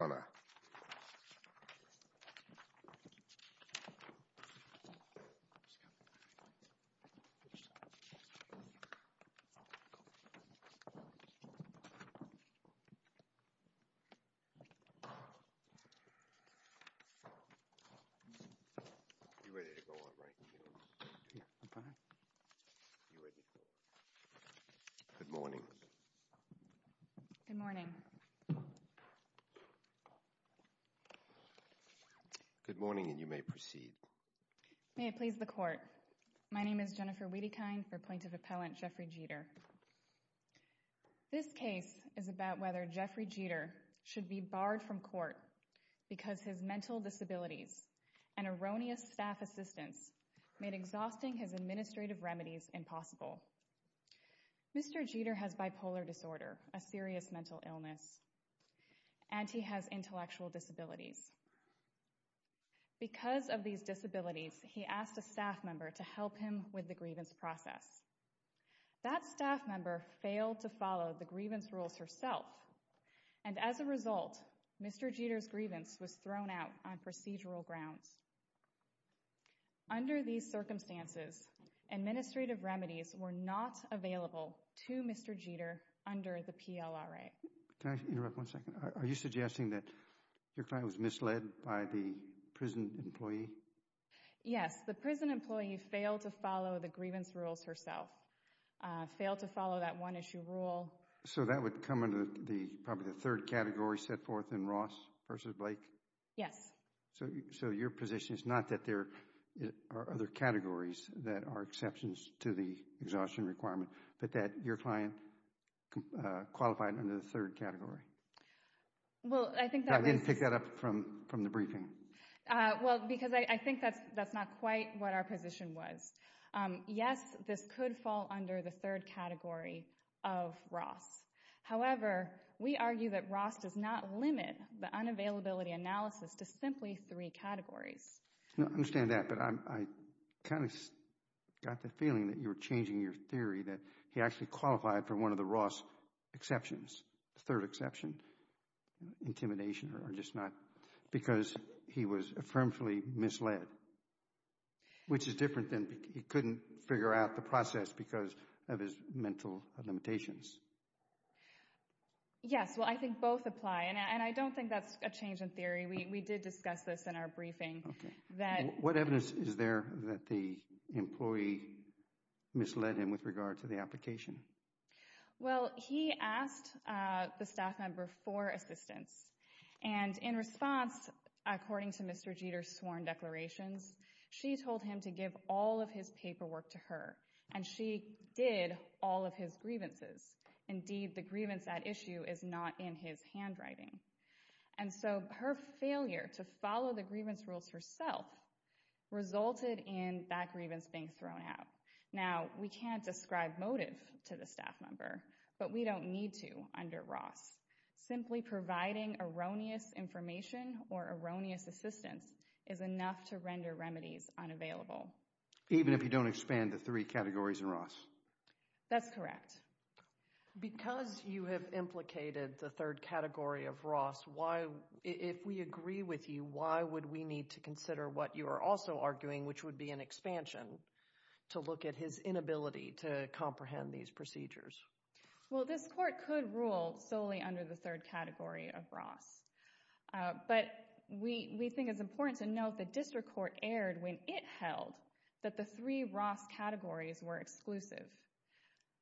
Good morning. Good morning. May it please the Court, my name is Jennifer Wiedekind for Plaintiff Appellant Jeffrey Geter. This case is about whether Jeffrey Geter should be barred from court because his mental disabilities and erroneous staff assistance made exhausting his administrative remedies impossible. Mr. Geter has bipolar disorder, a serious mental illness, and he has intellectual disabilities. Because of these disabilities he asked a staff member to help him with the grievance process. That staff member failed to follow the grievance rules herself and as a result Mr. Geter's grievance was thrown out on procedural grounds. Under these circumstances, administrative remedies were not available to Mr. Geter under the PLRA. Can I interrupt one second, are you suggesting that your client was misled by the prison employee? Yes, the prison employee failed to follow the grievance rules herself, failed to follow that one issue rule. So that would come under probably the third category set forth in Ross v. Blake? Yes. So your position is not that there are other categories that are exceptions to the exhaustion requirement, but that your client qualified under the third category? Well, I think that was... I didn't pick that up from the briefing. Well, because I think that's not quite what our position was. Yes, this could fall under the third category of Ross. However, we argue that Ross does not limit the unavailability analysis to simply three categories. I understand that, but I kind of got the feeling that you were changing your theory that he actually qualified for one of the Ross exceptions, the third exception, intimidation or just not, because he was affirmatively misled, which is different than he couldn't figure out the process because of his mental limitations. Yes, well, I think both apply, and I don't think that's a change in theory. We did discuss this in our briefing. What evidence is there that the employee misled him with regard to the application? Well, he asked the staff member for assistance, and in response, according to Mr. Jeter's paperwork to her, and she did all of his grievances. Indeed, the grievance at issue is not in his handwriting. And so her failure to follow the grievance rules herself resulted in that grievance being thrown out. Now, we can't describe motive to the staff member, but we don't need to under Ross. Simply providing erroneous information or erroneous assistance is enough to render remedies unavailable. Even if you don't expand the three categories in Ross? That's correct. Because you have implicated the third category of Ross, why, if we agree with you, why would we need to consider what you are also arguing, which would be an expansion to look at his inability to comprehend these procedures? Well, this court could rule solely under the third category of Ross, but we think it's fair to say that this court erred when it held that the three Ross categories were exclusive.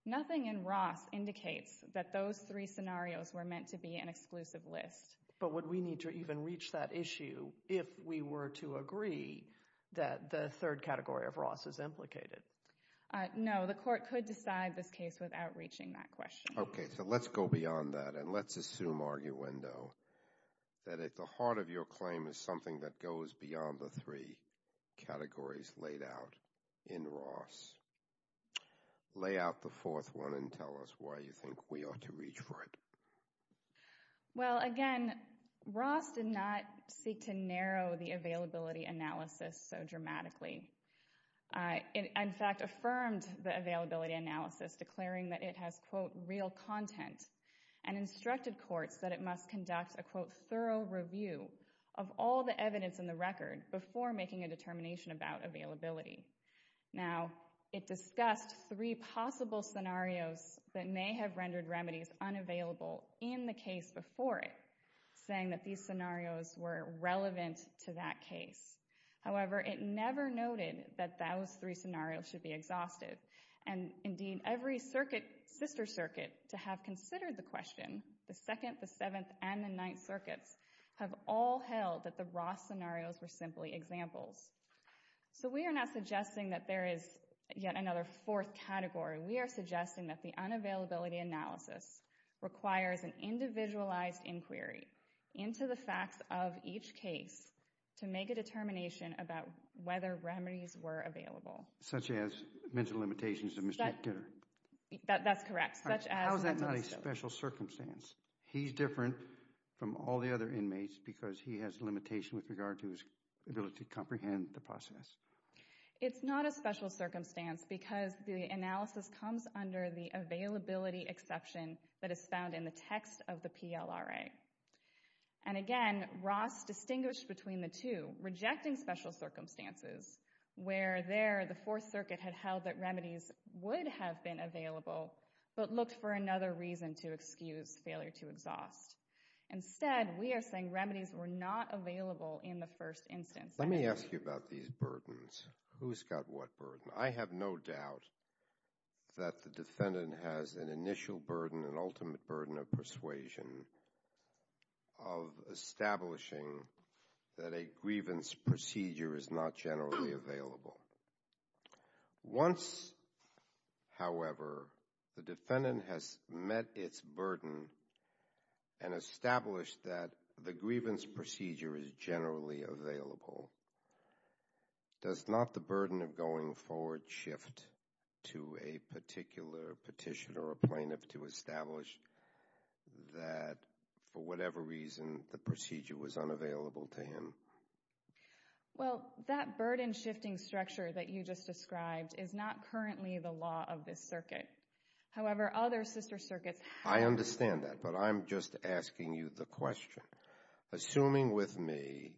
Nothing in Ross indicates that those three scenarios were meant to be an exclusive list. But would we need to even reach that issue if we were to agree that the third category of Ross is implicated? No, the court could decide this case without reaching that question. Okay, so let's go beyond that, and let's assume, arguendo, that at the heart of your claim is something that goes beyond the three categories laid out in Ross. Lay out the fourth one and tell us why you think we ought to reach for it. Well, again, Ross did not seek to narrow the availability analysis so dramatically. It, in fact, affirmed the availability analysis, declaring that it has, quote, real content, and instructed courts that it must conduct a, quote, thorough review of all the evidence in the record before making a determination about availability. Now, it discussed three possible scenarios that may have rendered remedies unavailable in the case before it, saying that these scenarios were relevant to that case. However, it never noted that those three scenarios should be exhausted, and indeed, every circuit, sister circuit, to have considered the question, the Second, the Seventh, and the Ninth circuits have all held that the Ross scenarios were simply examples. So we are not suggesting that there is yet another fourth category. We are suggesting that the unavailability analysis requires an individualized inquiry into the facts of each case to make a determination about whether remedies were available. Such as mental limitations of Mr. Kidder? That's correct. Such as mental limitations. How is that not a special circumstance? He's different from all the other inmates because he has limitations with regard to his ability to comprehend the process. It's not a special circumstance because the analysis comes under the availability exception that is found in the text of the PLRA. And again, Ross distinguished between the two, rejecting special circumstances where there the Fourth Circuit had held that remedies would have been available, but looked for another reason to excuse failure to exhaust. Instead, we are saying remedies were not available in the first instance. Let me ask you about these burdens. Who's got what burden? I have no doubt that the defendant has an initial burden, an ultimate burden of persuasion of establishing that a grievance procedure is not generally available. Once, however, the defendant has met its burden and established that the grievance procedure is generally available, does not the burden of going forward shift to a particular petitioner or plaintiff to establish that, for whatever reason, the procedure was unavailable to him? Well, that burden-shifting structure that you just described is not currently the law of this circuit. However, other sister circuits have. I understand that, but I'm just asking you the question. Assuming with me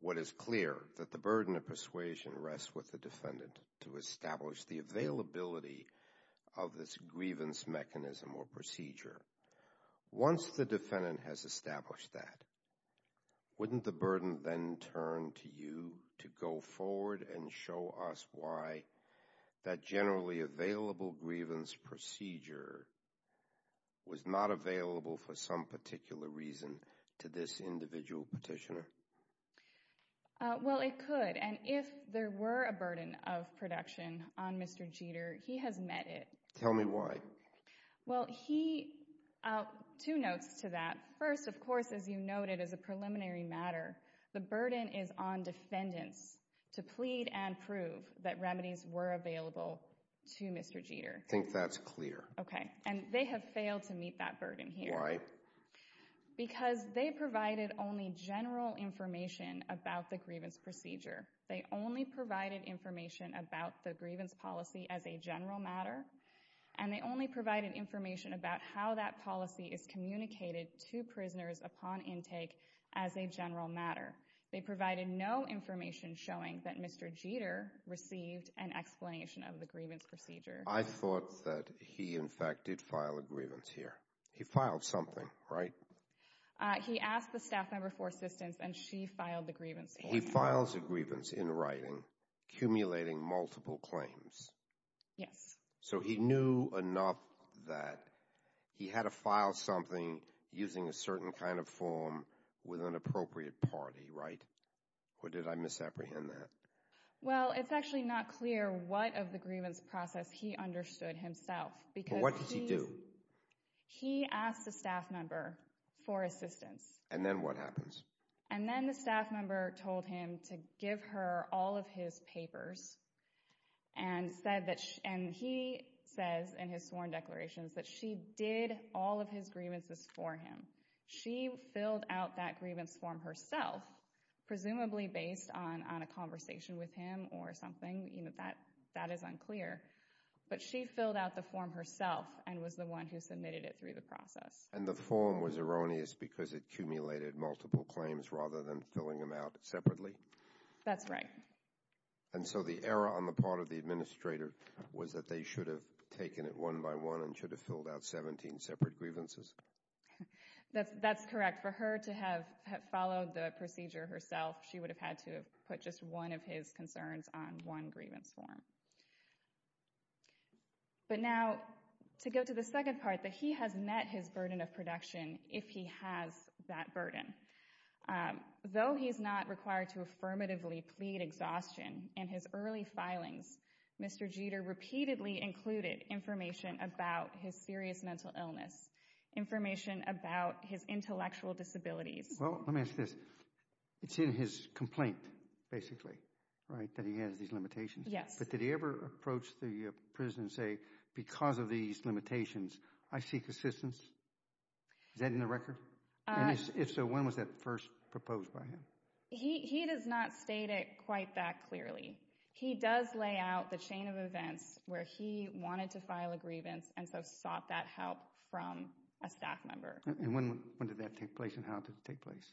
what is clear, that the burden of persuasion rests with the defendant to establish a grievance mechanism or procedure, once the defendant has established that, wouldn't the burden then turn to you to go forward and show us why that generally available grievance procedure was not available for some particular reason to this individual petitioner? Well, it could, and if there were a burden of production on Mr. Jeter, he has met it. Tell me why. Well, he, two notes to that. First, of course, as you noted, as a preliminary matter, the burden is on defendants to plead and prove that remedies were available to Mr. Jeter. I think that's clear. Okay. And they have failed to meet that burden here. Why? Because they provided only general information about the grievance procedure. They only provided information about the grievance policy as a general matter, and they only provided information about how that policy is communicated to prisoners upon intake as a general matter. They provided no information showing that Mr. Jeter received an explanation of the grievance procedure. I thought that he, in fact, did file a grievance here. He filed something, right? He asked the staff member for assistance, and she filed the grievance. He files a grievance in writing, accumulating multiple claims. Yes. So, he knew enough that he had to file something using a certain kind of form with an appropriate party, right? Or did I misapprehend that? Well, it's actually not clear what of the grievance process he understood himself, because What did he do? He asked the staff member for assistance. And then what happens? And then the staff member told him to give her all of his papers, and he says in his sworn declarations that she did all of his grievances for him. She filled out that grievance form herself, presumably based on a conversation with him or something. You know, that is unclear. But she filled out the form herself and was the one who submitted it through the process. And the form was erroneous because it accumulated multiple claims rather than filling them out separately? That's right. And so the error on the part of the administrator was that they should have taken it one by one and should have filled out 17 separate grievances? That's correct. For her to have followed the procedure herself, she would have had to have put just one of his concerns on one grievance form. But now, to go to the second part, that he has met his burden of production if he has that burden. Though he is not required to affirmatively plead exhaustion in his early filings, Mr. Jeter repeatedly included information about his serious mental illness, information about his intellectual disabilities. Well, let me ask this. It's in his complaint, basically, right, that he has these limitations? Yes. But did he ever approach the prison and say, because of these limitations, I seek assistance? Is that in the record? If so, when was that first proposed by him? He does not state it quite that clearly. He does lay out the chain of events where he wanted to file a grievance and so sought that help from a staff member. And when did that take place and how did it take place?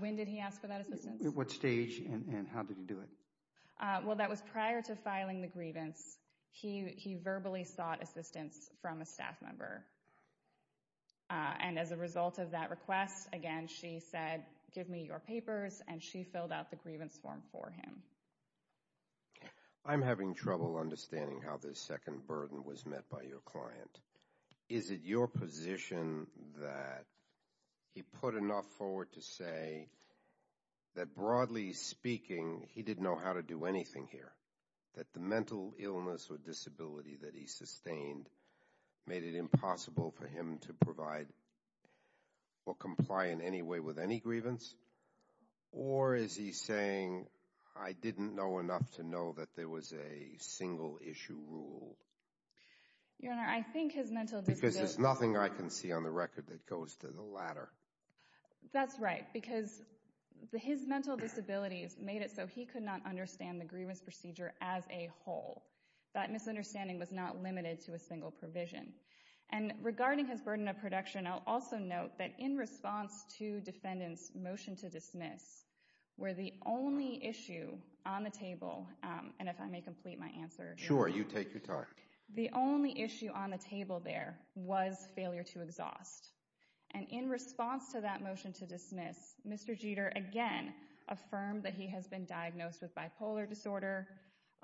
When did he ask for that assistance? What stage and how did he do it? Well, that was prior to filing the grievance. He verbally sought assistance from a staff member. And as a result of that request, again, she said, give me your papers, and she filled out the grievance form for him. I'm having trouble understanding how this second burden was met by your client. Is it your position that he put enough forward to say that, broadly speaking, he didn't know how to do anything here, that the mental illness or disability that he sustained made it impossible for him to provide or comply in any way with any grievance? Or is he saying, I didn't know enough to know that there was a single-issue rule? Your Honor, I think his mental disability— Because there's nothing I can see on the record that goes to the latter. That's right, because his mental disabilities made it so he could not understand the grievance procedure as a whole. That misunderstanding was not limited to a single provision. And regarding his burden of production, I'll also note that in response to defendant's motion to dismiss, where the only issue on the table—and if I may complete my answer— Sure, you take your time. The only issue on the table there was failure to exhaust. And in response to that motion to dismiss, Mr. Jeter again affirmed that he has been diagnosed with bipolar disorder,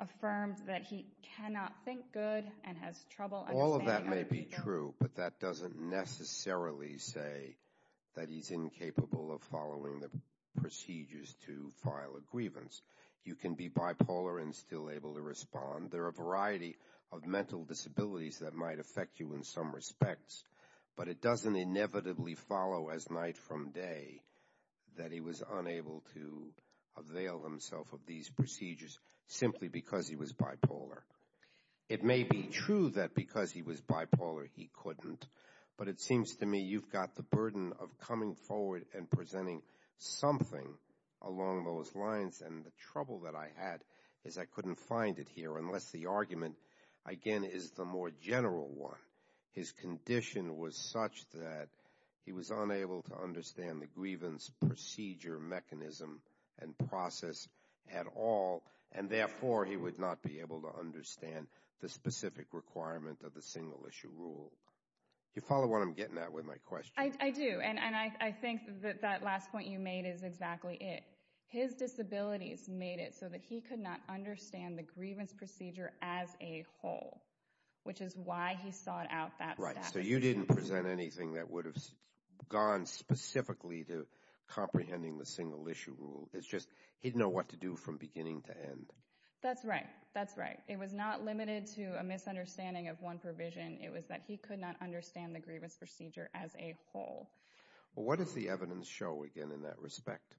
affirmed that he cannot think good and has trouble understanding— All of that may be true, but that doesn't necessarily say that he's incapable of following the procedures to file a grievance. You can be bipolar and still able to respond. There are a variety of mental disabilities that might affect you in some respects, but it doesn't inevitably follow as night from day that he was unable to avail himself of these procedures simply because he was bipolar. It may be true that because he was bipolar, he couldn't, but it seems to me you've got the burden of coming forward and presenting something along those lines, and the trouble that I had is I couldn't find it here unless the argument, again, is the more general one. His condition was such that he was unable to understand the grievance procedure mechanism and process at all, and therefore he would not be able to understand the specific requirement of the single-issue rule. You follow what I'm getting at with my question? I do, and I think that that last point you made is exactly it. His disabilities made it so that he could not understand the grievance procedure as a whole, which is why he sought out that step. Right, so you didn't present anything that would have gone specifically to comprehending the single-issue rule. It's just he didn't know what to do from beginning to end. That's right. That's right. It was not limited to a misunderstanding of one provision. It was that he could not understand the grievance procedure as a whole. What does the evidence show, again, in that respect?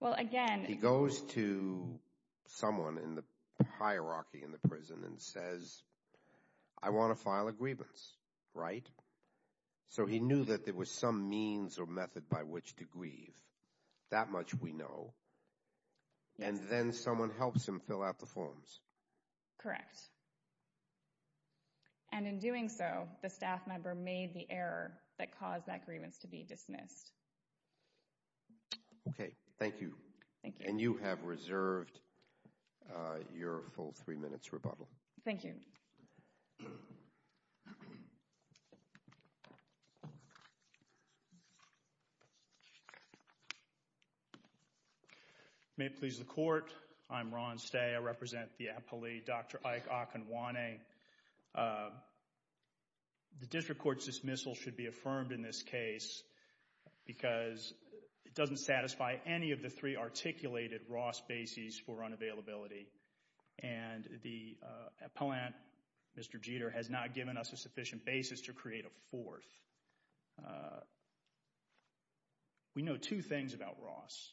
Well, again... He goes to someone in the hierarchy in the prison and says, I want to file a grievance, right? So he knew that there was some means or method by which to grieve. That much we know. And then someone helps him fill out the forms. Correct. And in doing so, the staff member made the error that caused that grievance to be dismissed. Okay. Thank you. Thank you. And you have reserved your full three minutes rebuttal. Thank you. May it please the Court, I'm Ron Stay, I represent the appellee, Dr. Ike Akinwane. The district court's dismissal should be affirmed in this case because it doesn't satisfy any of the three articulated Ross bases for unavailability. And the appellant, Mr. Jeter, has not given us a sufficient basis to create a fourth. We know two things about Ross.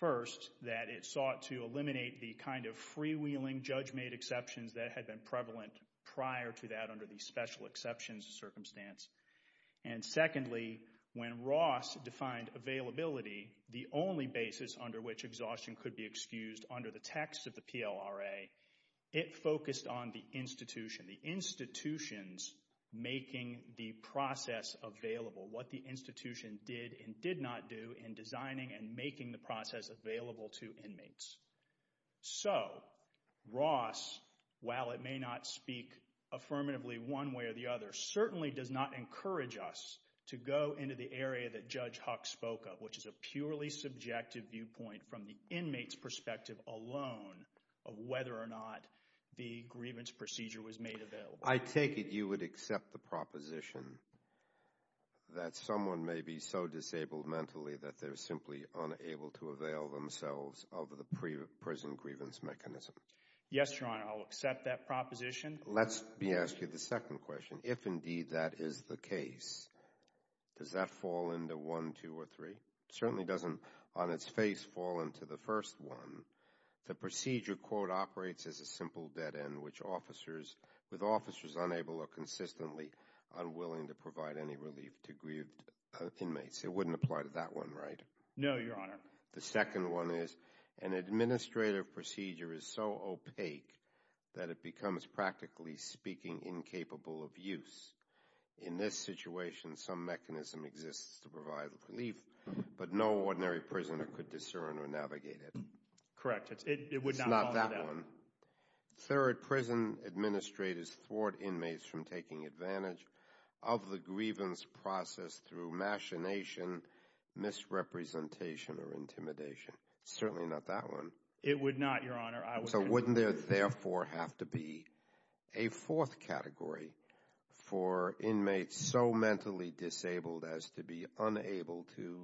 First, that it sought to eliminate the kind of freewheeling, judge-made exceptions that had been prevalent prior to that under the special exceptions circumstance. And secondly, when Ross defined availability, the only basis under which exhaustion could be excused under the text of the PLRA, it focused on the institution, the institutions making the process available, what the institution did and did not do in designing and making the process available to inmates. So, Ross, while it may not speak affirmatively one way or the other, certainly does not encourage us to go into the area that Judge Huck spoke of, which is a purely subjective viewpoint from the inmate's perspective alone of whether or not the grievance procedure was made available. I take it you would accept the proposition that someone may be so disabled mentally that they're simply unable to avail themselves of the prison grievance mechanism. Yes, Your Honor, I'll accept that proposition. Let me ask you the second question. If indeed that is the case, does that fall into one, two, or three? Certainly doesn't on its face fall into the first one. The procedure, quote, operates as a simple dead end, which officers, with officers unable or consistently unwilling to provide any relief to grieved inmates. It wouldn't apply to that one, right? No, Your Honor. The second one is an administrative procedure is so opaque that it becomes practically speaking incapable of use. In this situation, some mechanism exists to provide relief, but no ordinary prisoner could discern or navigate it. Correct. It would not fall for that. It's not that one. Third, prison administrators thwart inmates from taking advantage of the grievance process through machination, misrepresentation, or intimidation. Certainly not that one. It would not, Your Honor. So wouldn't there therefore have to be a fourth category for inmates so mentally disabled as to be unable to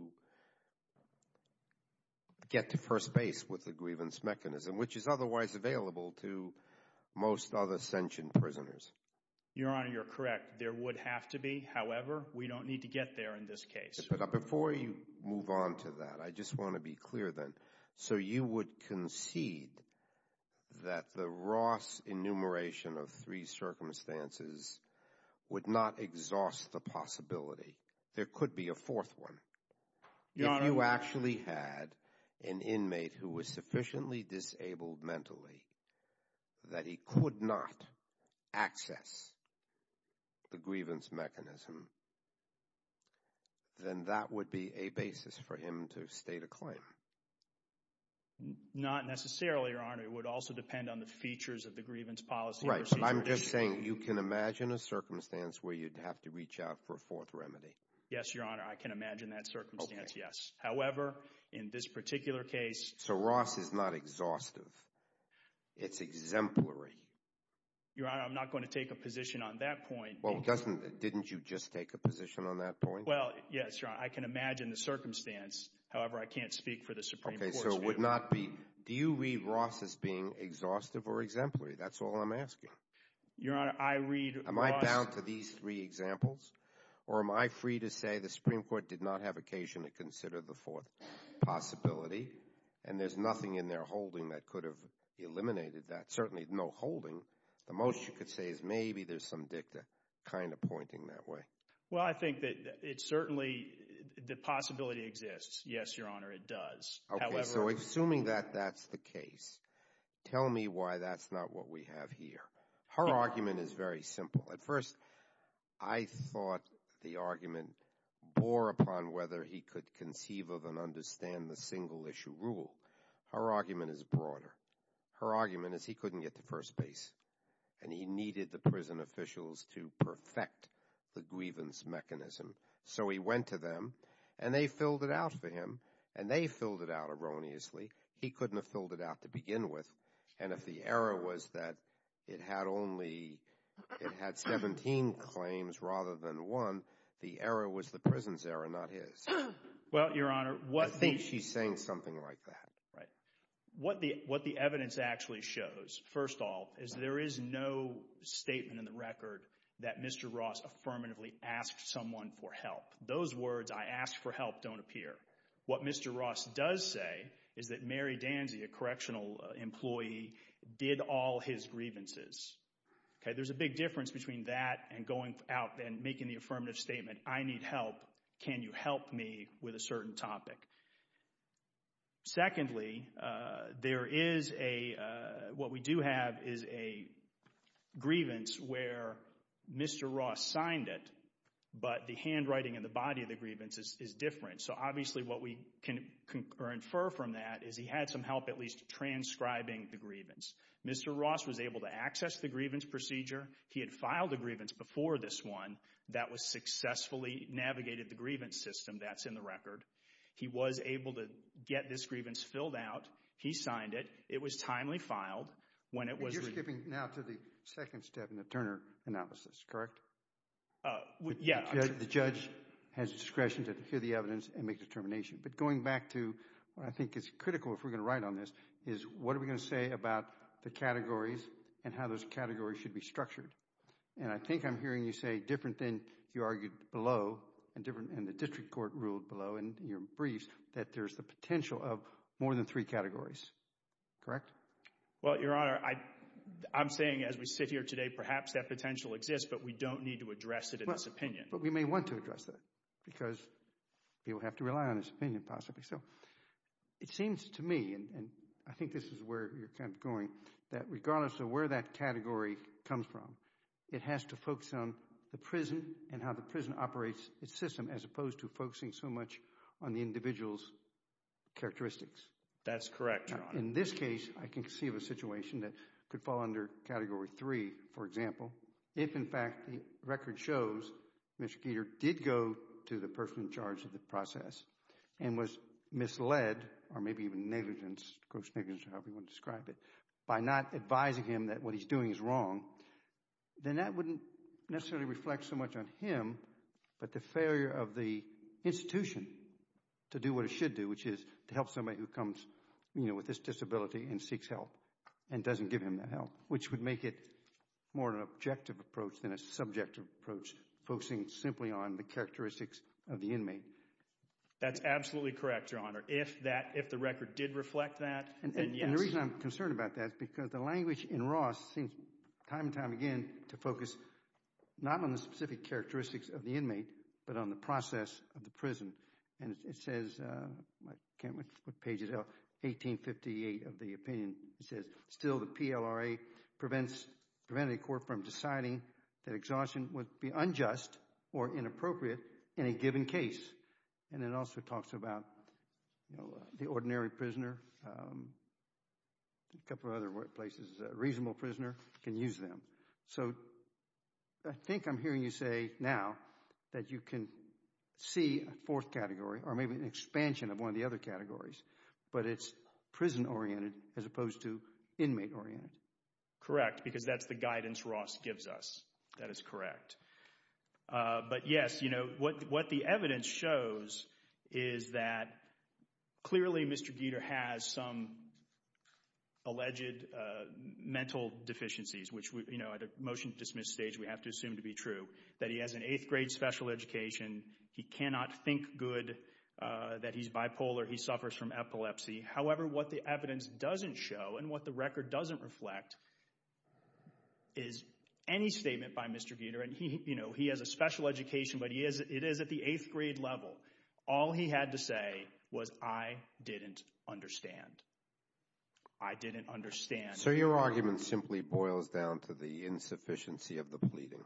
get to first base with the grievance mechanism, which is otherwise available to most other sentient prisoners? Your Honor, you're correct. There would have to be. However, we don't need to get there in this case. But before you move on to that, I just want to be clear then. So you would concede that the Ross enumeration of three circumstances would not exhaust the possibility there could be a fourth one? Your Honor. If you actually had an inmate who was sufficiently disabled mentally that he could not access the grievance mechanism, then that would be a basis for him to state a claim. Not necessarily, Your Honor. It would also depend on the features of the grievance policy. Right. I'm just saying you can imagine a circumstance where you'd have to reach out for a fourth remedy. Yes, Your Honor. I can imagine that circumstance, yes. However, in this particular case. So Ross is not exhaustive. It's exemplary. Your Honor, I'm not going to take a position on that point. Well, didn't you just take a position on that point? Well, yes, Your Honor. I can imagine the circumstance. However, I can't speak for the Supreme Court's view. Okay. So it would not be. Do you read Ross as being exhaustive or exemplary? That's all I'm asking. Your Honor, I read Ross. Am I bound to these three examples? Or am I free to say the Supreme Court did not have occasion to consider the fourth possibility and there's nothing in their holding that could have eliminated that? Certainly, no holding. The most you could say is maybe there's some dicta kind of pointing that way. Well, I think that it certainly, the possibility exists. Yes, Your Honor, it does. However. Okay. So assuming that that's the case, tell me why that's not what we have here. Her argument is very simple. At first, I thought the argument bore upon whether he could conceive of and understand the single issue rule. Her argument is broader. Her argument is he couldn't get to first base and he needed the prison officials to perfect the grievance mechanism. So he went to them and they filled it out for him. And they filled it out erroneously. He couldn't have filled it out to begin with. And if the error was that it had only, it had 17 claims rather than one, the error was the prison's error, not his. Well, Your Honor. I think she's saying something like that. Right. What the evidence actually shows, first of all, is there is no statement in the record that Mr. Ross affirmatively asked someone for help. Those words, I asked for help, don't appear. What Mr. Ross does say is that Mary Danzey, a correctional employee, did all his grievances. Okay. There's a big difference between that and going out and making the affirmative statement, I need help, can you help me with a certain topic? Secondly, there is a, what we do have is a grievance where Mr. Ross signed it, but the handwriting and the body of the grievance is different. So obviously what we can infer from that is he had some help at least transcribing the grievance. Mr. Ross was able to access the grievance procedure. He had filed a grievance before this one that was successfully navigated the grievance system that's in the record. He was able to get this grievance filled out. He signed it. It was timely filed. When it was reviewed. You're skipping now to the second step in the Turner analysis, correct? Yeah. The judge has discretion to hear the evidence and make a determination. But going back to, I think it's critical if we're going to write on this, is what are we going to say about the categories and how those categories should be structured? And I think I'm hearing you say different than you argued below and the district court ruled below and your briefs that there's the potential of more than three categories, correct? Well, Your Honor, I'm saying as we sit here today, perhaps that potential exists, but we don't need to address it in this opinion. But we may want to address that because people have to rely on this opinion possibly. So it seems to me, and I think this is where you're kind of going, that regardless of where that category comes from, it has to focus on the prison and how the prison operates its system as opposed to focusing so much on the individual's characteristics. That's correct, Your Honor. In this case, I can conceive a situation that could fall under Category 3, for example, if in fact the record shows Mr. Keeter did go to the person in charge of the process and was misled or maybe even negligent, gross negligence, however you want to describe it, by not advising him that what he's doing is wrong, then that wouldn't necessarily reflect so much on him, but the failure of the institution to do what it should do, which is to help somebody who comes, you know, with this disability and seeks help and doesn't give him that help, which would make it more of an objective approach than a subjective approach, focusing simply on the characteristics of the inmate. That's absolutely correct, Your Honor. If that, if the record did reflect that, then yes. And the reason I'm concerned about that is because the language in Ross seems time and again to focus not on the specific characteristics of the inmate, but on the process of the prison. And it says, I can't quite put pages out, 1858 of the opinion, it says, still the PLRA prevents, prevented the court from deciding that exhaustion would be unjust or inappropriate in a given case. And it also talks about, you know, the ordinary prisoner, a couple of other places, a reasonable prisoner can use them. So I think I'm hearing you say now that you can see a fourth category, or maybe an expansion of one of the other categories, but it's prison-oriented as opposed to inmate-oriented. Correct, because that's the guidance Ross gives us. That is correct. But yes, you know, what the evidence shows is that clearly Mr. Gieter has some alleged mental deficiencies, which, you know, at a motion-to-dismiss stage we have to assume to be true, that he has an eighth-grade special education, he cannot think good, that he's bipolar, he suffers from epilepsy. However, what the evidence doesn't show and what the record doesn't reflect is any statement by Mr. Gieter, and he, you know, he has a special education, but he is, it is at the eighth-grade level. All he had to say was, I didn't understand. I didn't understand. So your argument simply boils down to the insufficiency of the pleading.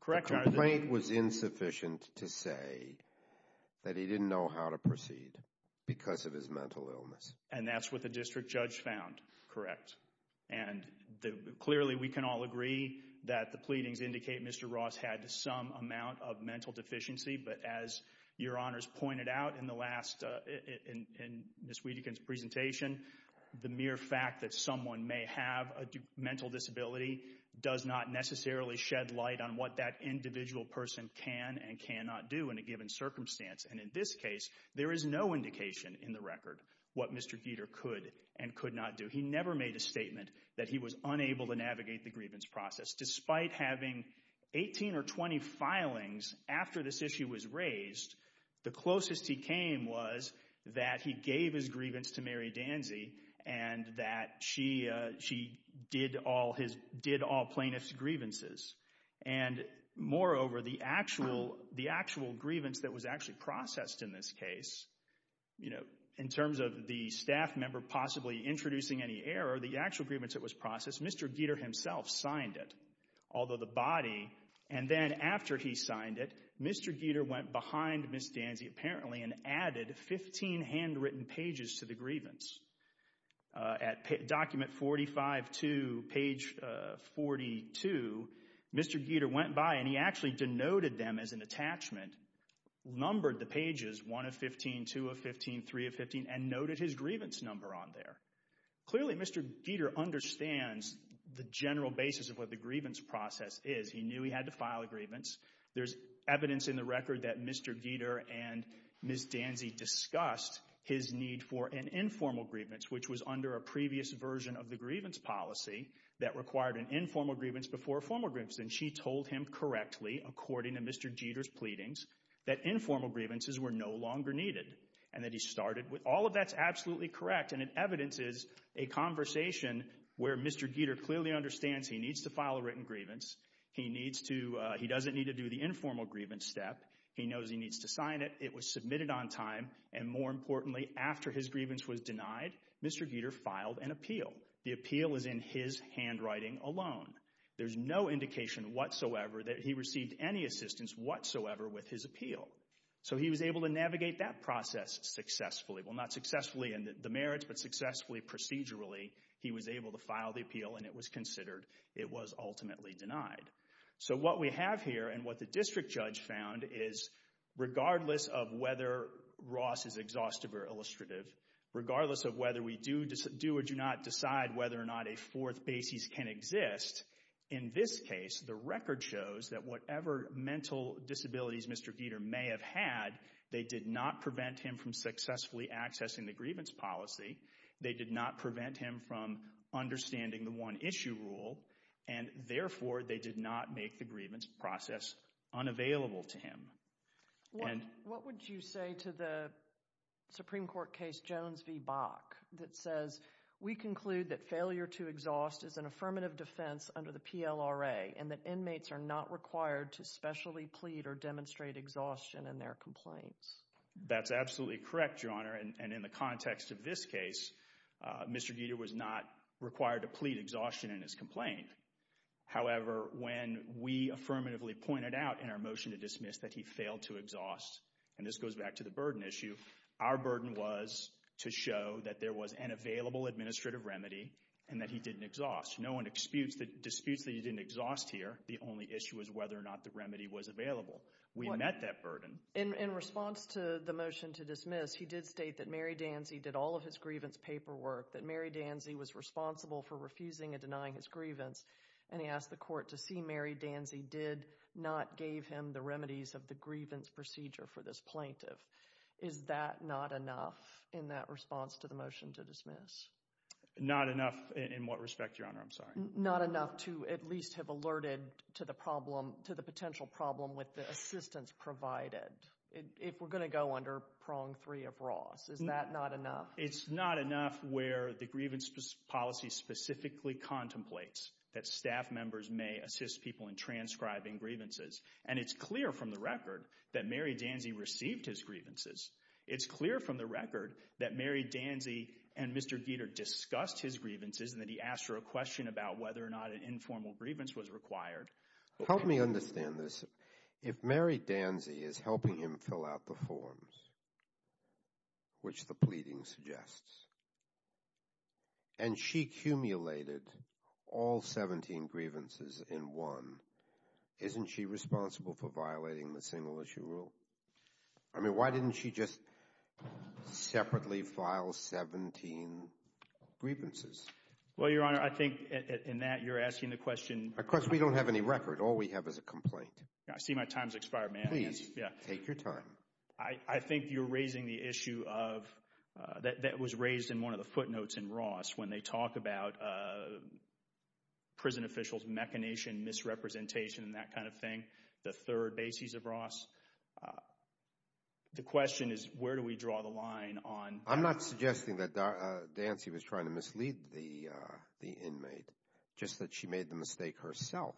Correct. The complaint was insufficient to say that he didn't know how to proceed because of his mental illness. And that's what the district judge found. Correct. And clearly we can all agree that the pleadings indicate Mr. Ross had some amount of mental The mere fact that someone may have a mental disability does not necessarily shed light on what that individual person can and cannot do in a given circumstance, and in this case there is no indication in the record what Mr. Gieter could and could not do. He never made a statement that he was unable to navigate the grievance process. Despite having 18 or 20 filings after this issue was raised, the closest he came was that he gave his grievance to Mary Danzey and that she did all plaintiff's grievances. And moreover, the actual grievance that was actually processed in this case, you know, in terms of the staff member possibly introducing any error, the actual grievance that was processed, Mr. Gieter himself signed it, although the body, and then after he signed it, Mr. Gieter went behind Ms. Danzey apparently and added 15 handwritten pages to the grievance. At document 45-2, page 42, Mr. Gieter went by and he actually denoted them as an attachment, numbered the pages 1 of 15, 2 of 15, 3 of 15, and noted his grievance number on there. Clearly Mr. Gieter understands the general basis of what the grievance process is. He knew he had to file a grievance. There's evidence in the record that Mr. Gieter and Ms. Danzey discussed his need for an informal grievance, which was under a previous version of the grievance policy that required an informal grievance before a formal grievance. And she told him correctly, according to Mr. Gieter's pleadings, that informal grievances were no longer needed. And that he started with, all of that's absolutely correct, and it evidences a conversation where Mr. Gieter clearly understands he needs to file a written grievance. He needs to, he doesn't need to do the informal grievance step. He knows he needs to sign it. It was submitted on time. And more importantly, after his grievance was denied, Mr. Gieter filed an appeal. The appeal is in his handwriting alone. There's no indication whatsoever that he received any assistance whatsoever with his appeal. So he was able to navigate that process successfully. Well, not successfully in the merits, but successfully procedurally, he was able to file the appeal, and it was considered, it was ultimately denied. So what we have here, and what the district judge found, is regardless of whether Ross is exhaustive or illustrative, regardless of whether we do or do not decide whether or not a fourth basis can exist, in this case, the record shows that whatever mental disabilities Mr. Gieter may have had, they did not prevent him from successfully accessing the grievance policy. They did not prevent him from understanding the one issue rule, and therefore, they did not make the grievance process unavailable to him. What would you say to the Supreme Court case Jones v. Bach that says, we conclude that failure to exhaust is an affirmative defense under the PLRA, and that inmates are not required to specially plead or demonstrate exhaustion in their complaints? That's absolutely correct, Your Honor, and in the context of this case, Mr. Gieter was not required to plead exhaustion in his complaint. However, when we affirmatively pointed out in our motion to dismiss that he failed to exhaust, and this goes back to the burden issue, our burden was to show that there was an available administrative remedy, and that he didn't exhaust. No one disputes that he didn't exhaust here. The only issue is whether or not the remedy was available. We met that burden. In response to the motion to dismiss, he did state that Mary Danzey did all of his grievance paperwork, that Mary Danzey was responsible for refusing and denying his grievance, and he asked the court to see Mary Danzey did not gave him the remedies of the grievance procedure for this plaintiff. Is that not enough in that response to the motion to dismiss? Not enough in what respect, Your Honor, I'm sorry. Not enough to at least have alerted to the problem, to the potential problem with the assistance provided, if we're going to go under Prong 3 of Ross. Is that not enough? It's not enough where the grievance policy specifically contemplates that staff members may assist people in transcribing grievances, and it's clear from the record that Mary Danzey received his grievances. It's clear from the record that Mary Danzey and Mr. Gieter discussed his grievances and that he asked her a question about whether or not an informal grievance was required. Help me understand this. If Mary Danzey is helping him fill out the forms, which the pleading suggests, and she accumulated all 17 grievances in one, isn't she responsible for violating the single-issue rule? I mean, why didn't she just separately file 17 grievances? Well, Your Honor, I think in that, you're asking the question. Of course, we don't have any record. All we have is a complaint. Yeah, I see my time's expired, ma'am. Please. Yeah. Take your time. I think you're raising the issue of, that was raised in one of the footnotes in Ross when they talk about prison officials' machination, misrepresentation, and that kind of thing, the third bases of Ross. The question is, where do we draw the line on that? I'm not suggesting that Danzey was trying to mislead the inmate, just that she made the mistake herself.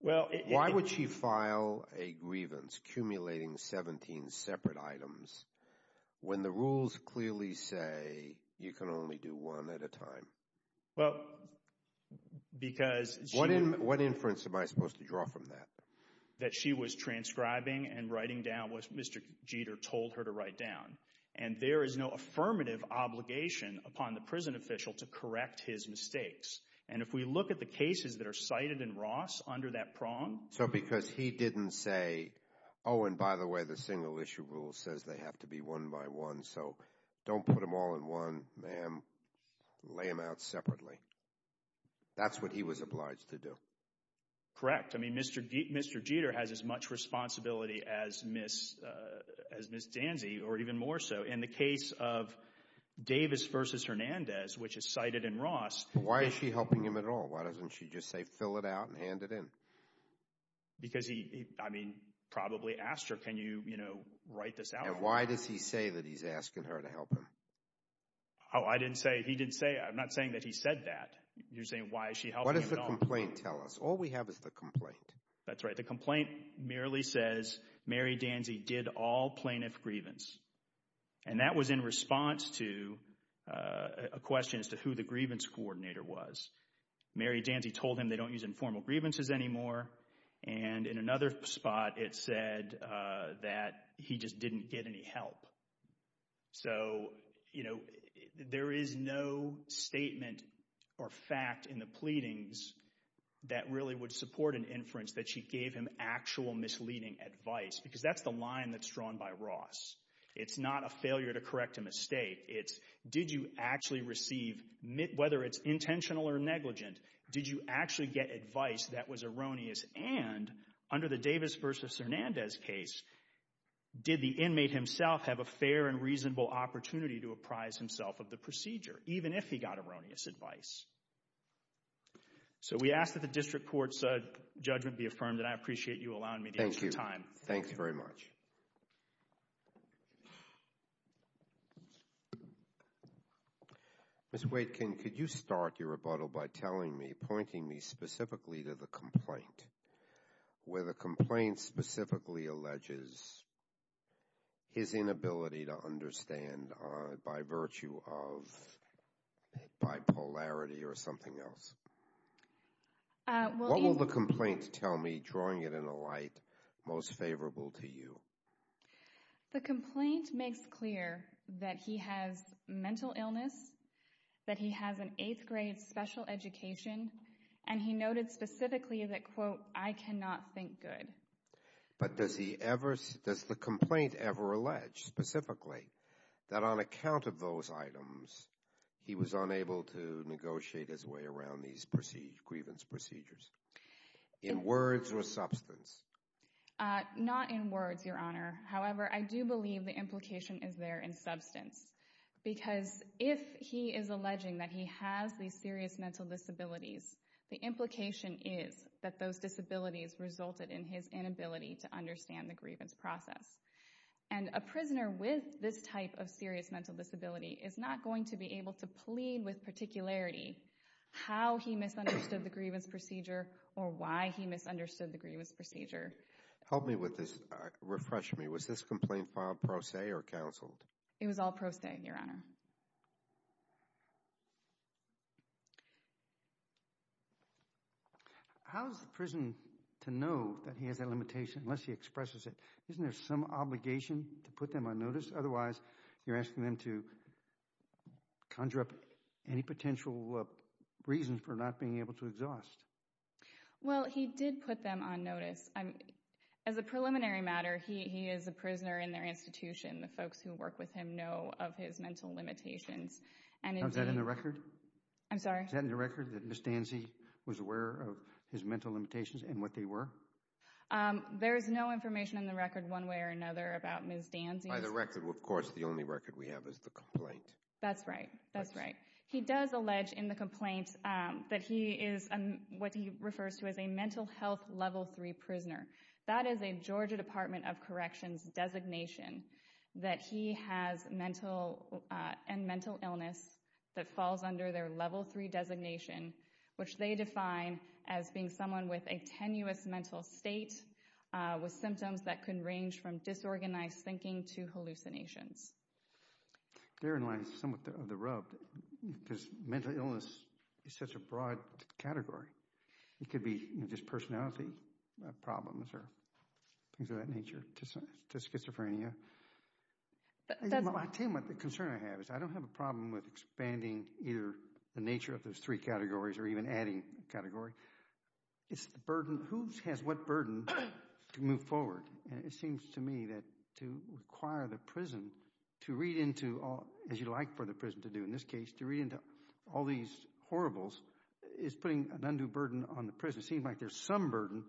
Why would she file a grievance, accumulating 17 separate items, when the rules clearly say you can only do one at a time? Because she— What inference am I supposed to draw from that? That she was transcribing and writing down what Mr. Jeter told her to write down. And there is no affirmative obligation upon the prison official to correct his mistakes. And if we look at the cases that are cited in Ross under that prong— So because he didn't say, oh, and by the way, the single-issue rule says they have to be one by one, so don't put them all in one, ma'am, lay them out separately. That's what he was obliged to do. Correct. I mean, Mr. Jeter has as much responsibility as Ms. Danzey, or even more so. In the case of Davis v. Hernandez, which is cited in Ross— Why is she helping him at all? Why doesn't she just say, fill it out and hand it in? Because he, I mean, probably asked her, can you, you know, write this out for him? And why does he say that he's asking her to help him? Oh, I didn't say, he didn't say, I'm not saying that he said that. You're saying, why is she helping him at all? What does the complaint tell us? All we have is the complaint. That's right. The complaint merely says, Mary Danzey did all plaintiff grievance. And that was in response to a question as to who the grievance coordinator was. Mary Danzey told him they don't use informal grievances anymore, and in another spot, it said that he just didn't get any help. So, you know, there is no statement or fact in the pleadings that really would support an inference that she gave him actual misleading advice, because that's the line that's drawn by Ross. It's not a failure to correct a mistake. It's did you actually receive, whether it's intentional or negligent, did you actually get advice that was erroneous? And under the Davis versus Hernandez case, did the inmate himself have a fair and reasonable opportunity to apprise himself of the procedure, even if he got erroneous advice? So we ask that the district court's judgment be affirmed, and I appreciate you allowing me the extra time. Thank you. Thanks very much. Ms. Waitkin, could you start your rebuttal by telling me, pointing me specifically to the complaint, where the complaint specifically alleges his inability to understand by virtue of bipolarity or something else? What will the complaint tell me, drawing it in a light most favorable to you? The complaint makes clear that he has mental illness, that he has an eighth grade special education, and he noted specifically that, quote, I cannot think good. But does the complaint ever allege, specifically, that on account of those items, he was unable to negotiate his way around these grievance procedures, in words or substance? Not in words, Your Honor. However, I do believe the implication is there in substance, because if he is alleging that he has these serious mental disabilities, the implication is that those disabilities resulted in his inability to understand the grievance process. And a prisoner with this type of serious mental disability is not going to be able to plead with particularity how he misunderstood the grievance procedure or why he misunderstood the grievance procedure. Help me with this. Refresh me. Was this complaint filed pro se or counseled? It was all pro se, Your Honor. How is the prison to know that he has that limitation, unless he expresses it? Isn't there some obligation to put them on notice? Otherwise, you're asking them to conjure up any potential reasons for not being able to exhaust. Well, he did put them on notice. As a preliminary matter, he is a prisoner in their institution. The folks who work with him know of his mental limitations. And indeed— Is that in the record? I'm sorry? Is that in the record, that Ms. Danzey was aware of his mental limitations and what they were? There is no information in the record, one way or another, about Ms. Danzey's— By the record, of course, the only record we have is the complaint. That's right. That's right. He does allege in the complaint that he is what he refers to as a mental health level three prisoner. That is a Georgia Department of Corrections designation that he has mental illness that falls under their level three designation, which they define as being someone with a hallucinations. They're in line somewhat of the rub, because mental illness is such a broad category. It could be just personality problems or things of that nature, to schizophrenia. I tell you what the concern I have is I don't have a problem with expanding either the nature of those three categories or even adding a category. It's the burden. Who has what burden to move forward? It seems to me that to require the prison to read into, as you'd like for the prison to do in this case, to read into all these horribles is putting an undue burden on the prison. It seems like there's some burden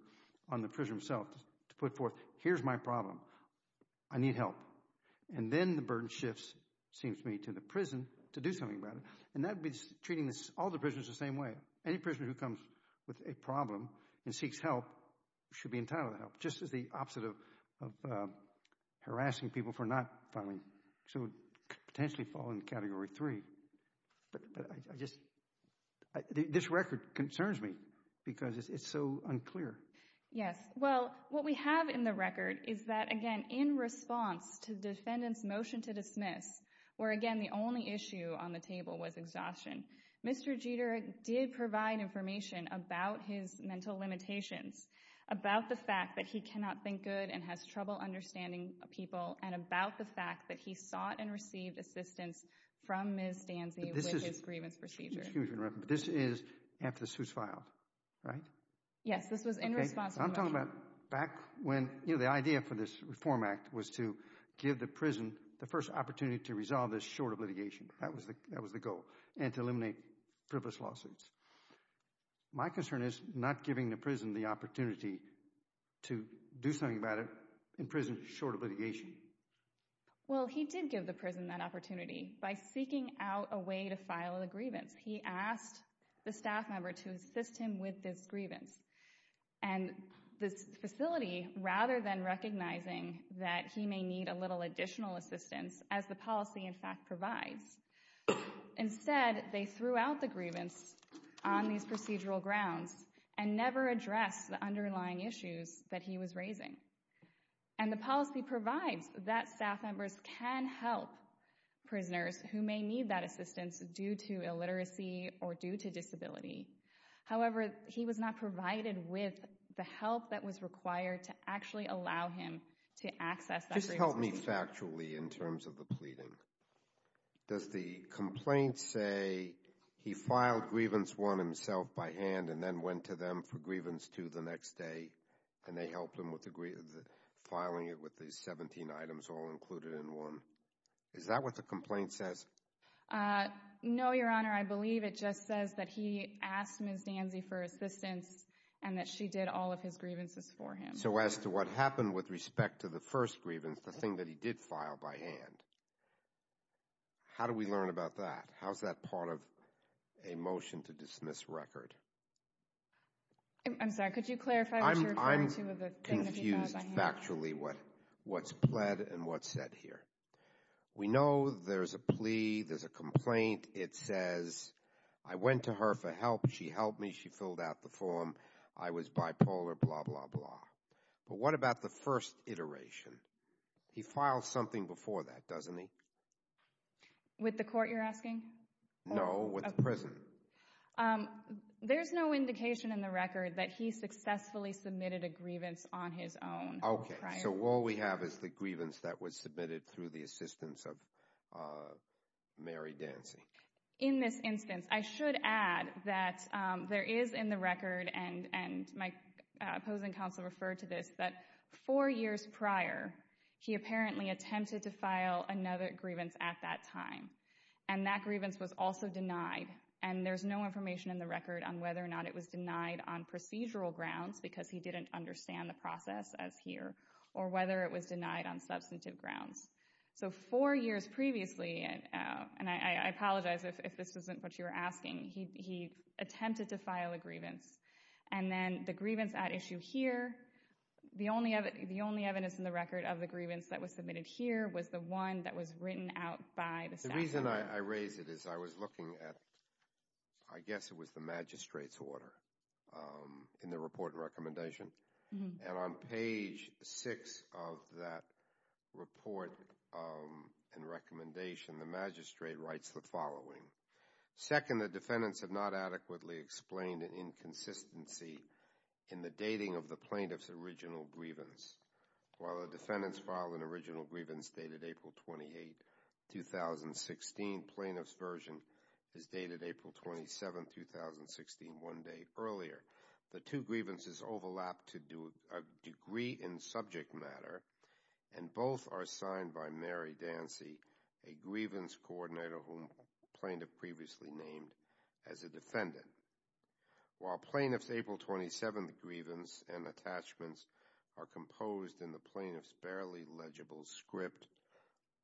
on the prison itself to put forth, here's my problem. I need help. And then the burden shifts, it seems to me, to the prison to do something about it. And that would be treating all the prisoners the same way. Any prisoner who comes with a problem and seeks help should be entitled to help, just as the opposite of harassing people for not following, should potentially fall into category three. This record concerns me because it's so unclear. Yes. Well, what we have in the record is that, again, in response to the defendant's motion to dismiss, where again the only issue on the table was exhaustion, Mr. Jeter did provide information about his mental limitations, about the fact that he cannot think good and has trouble understanding people, and about the fact that he sought and received assistance from Ms. Danzey with his grievance procedure. This is after the suit's filed, right? Yes. This was in response to the motion. I'm talking about back when, you know, the idea for this Reform Act was to give the prison the first opportunity to resolve this short of litigation. That was the goal, and to eliminate frivolous lawsuits. My concern is not giving the prison the opportunity to do something about it in prison, short of litigation. Well, he did give the prison that opportunity by seeking out a way to file a grievance. He asked the staff member to assist him with this grievance. And this facility, rather than recognizing that he may need a little additional assistance, as the policy in fact provides, instead they threw out the grievance on these procedural grounds and never addressed the underlying issues that he was raising. And the policy provides that staff members can help prisoners who may need that assistance due to illiteracy or due to disability. However, he was not provided with the help that was required to actually allow him to access that grievance. Just help me factually in terms of the pleading. Does the complaint say he filed Grievance 1 himself by hand and then went to them for Grievance 2 the next day, and they helped him with filing it with these 17 items all included in one? Is that what the complaint says? No, Your Honor. I believe it just says that he asked Ms. Danzey for assistance and that she did all of his grievances for him. So as to what happened with respect to the first grievance, the thing that he did file by hand, how do we learn about that? How's that part of a motion to dismiss record? I'm sorry, could you clarify what you're referring to with the thing that he filed by hand? I'm confused factually what's pled and what's said here. We know there's a plea, there's a complaint. It says, I went to her for help, she helped me, she filled out the form. I was bipolar, blah, blah, blah. But what about the first iteration? He files something before that, doesn't he? With the court you're asking? No, with the prison. There's no indication in the record that he successfully submitted a grievance on his own prior. Okay, so all we have is the grievance that was submitted through the assistance of Mary Danzey. In this instance, I should add that there is in the record, and my opposing counsel referred to this, that four years prior, he apparently attempted to file another grievance at that time. And that grievance was also denied, and there's no information in the record on whether or not it was denied on procedural grounds, because he didn't understand the process as here, or whether it was denied on substantive grounds. So four years previously, and I apologize if this isn't what you were asking, he attempted to file a grievance. And then the grievance at issue here, the only evidence in the record of the grievance that was submitted here was the one that was written out by the statute. The reason I raise it is I was looking at, I guess it was the magistrate's order in the report and recommendation. And on page six of that report and recommendation, the magistrate writes the following. Second, the defendants have not adequately explained an inconsistency in the dating of the plaintiff's original grievance. While the defendants filed an original grievance dated April 28, 2016, plaintiff's version is dated April 27, 2016, one day earlier. The two grievances overlap to a degree in subject matter, and both are signed by Mary Dancy, a grievance coordinator whom plaintiff previously named as a defendant. While plaintiff's April 27th grievance and attachments are composed in the plaintiff's barely legible script,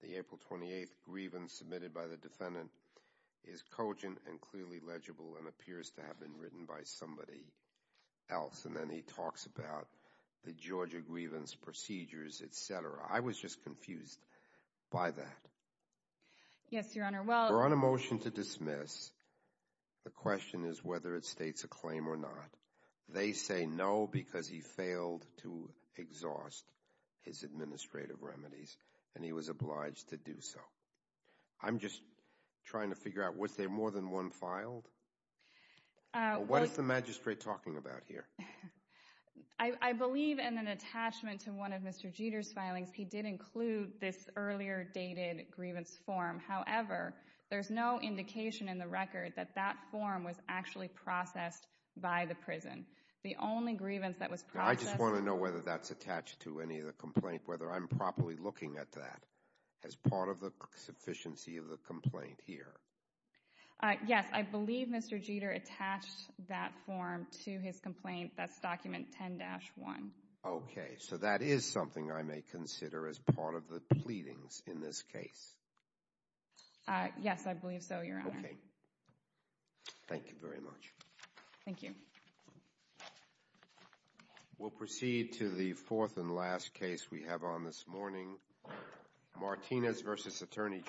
the April 28th grievance submitted by the defendant is cogent and clearly legible and appears to have been written by somebody else. And then he talks about the Georgia grievance procedures, et cetera. I was just confused by that. Yes, Your Honor. We're on a motion to dismiss. The question is whether it states a claim or not. They say no because he failed to exhaust his administrative remedies and he was obliged to do so. I'm just trying to figure out, was there more than one filed? What is the magistrate talking about here? I believe in an attachment to one of Mr. Jeter's filings, he did include this earlier dated grievance form. However, there's no indication in the record that that form was actually processed by the prison. The only grievance that was processed— I just want to know whether that's attached to any of the complaint, whether I'm properly looking at that as part of the sufficiency of the complaint here. Yes, I believe Mr. Jeter attached that form to his complaint. That's document 10-1. Okay, so that is something I may consider as part of the pleadings in this case. Yes, I believe so, Your Honor. Thank you very much. Thank you. We'll proceed to the fourth and last case we have on this morning, Martinez v. Attorney General.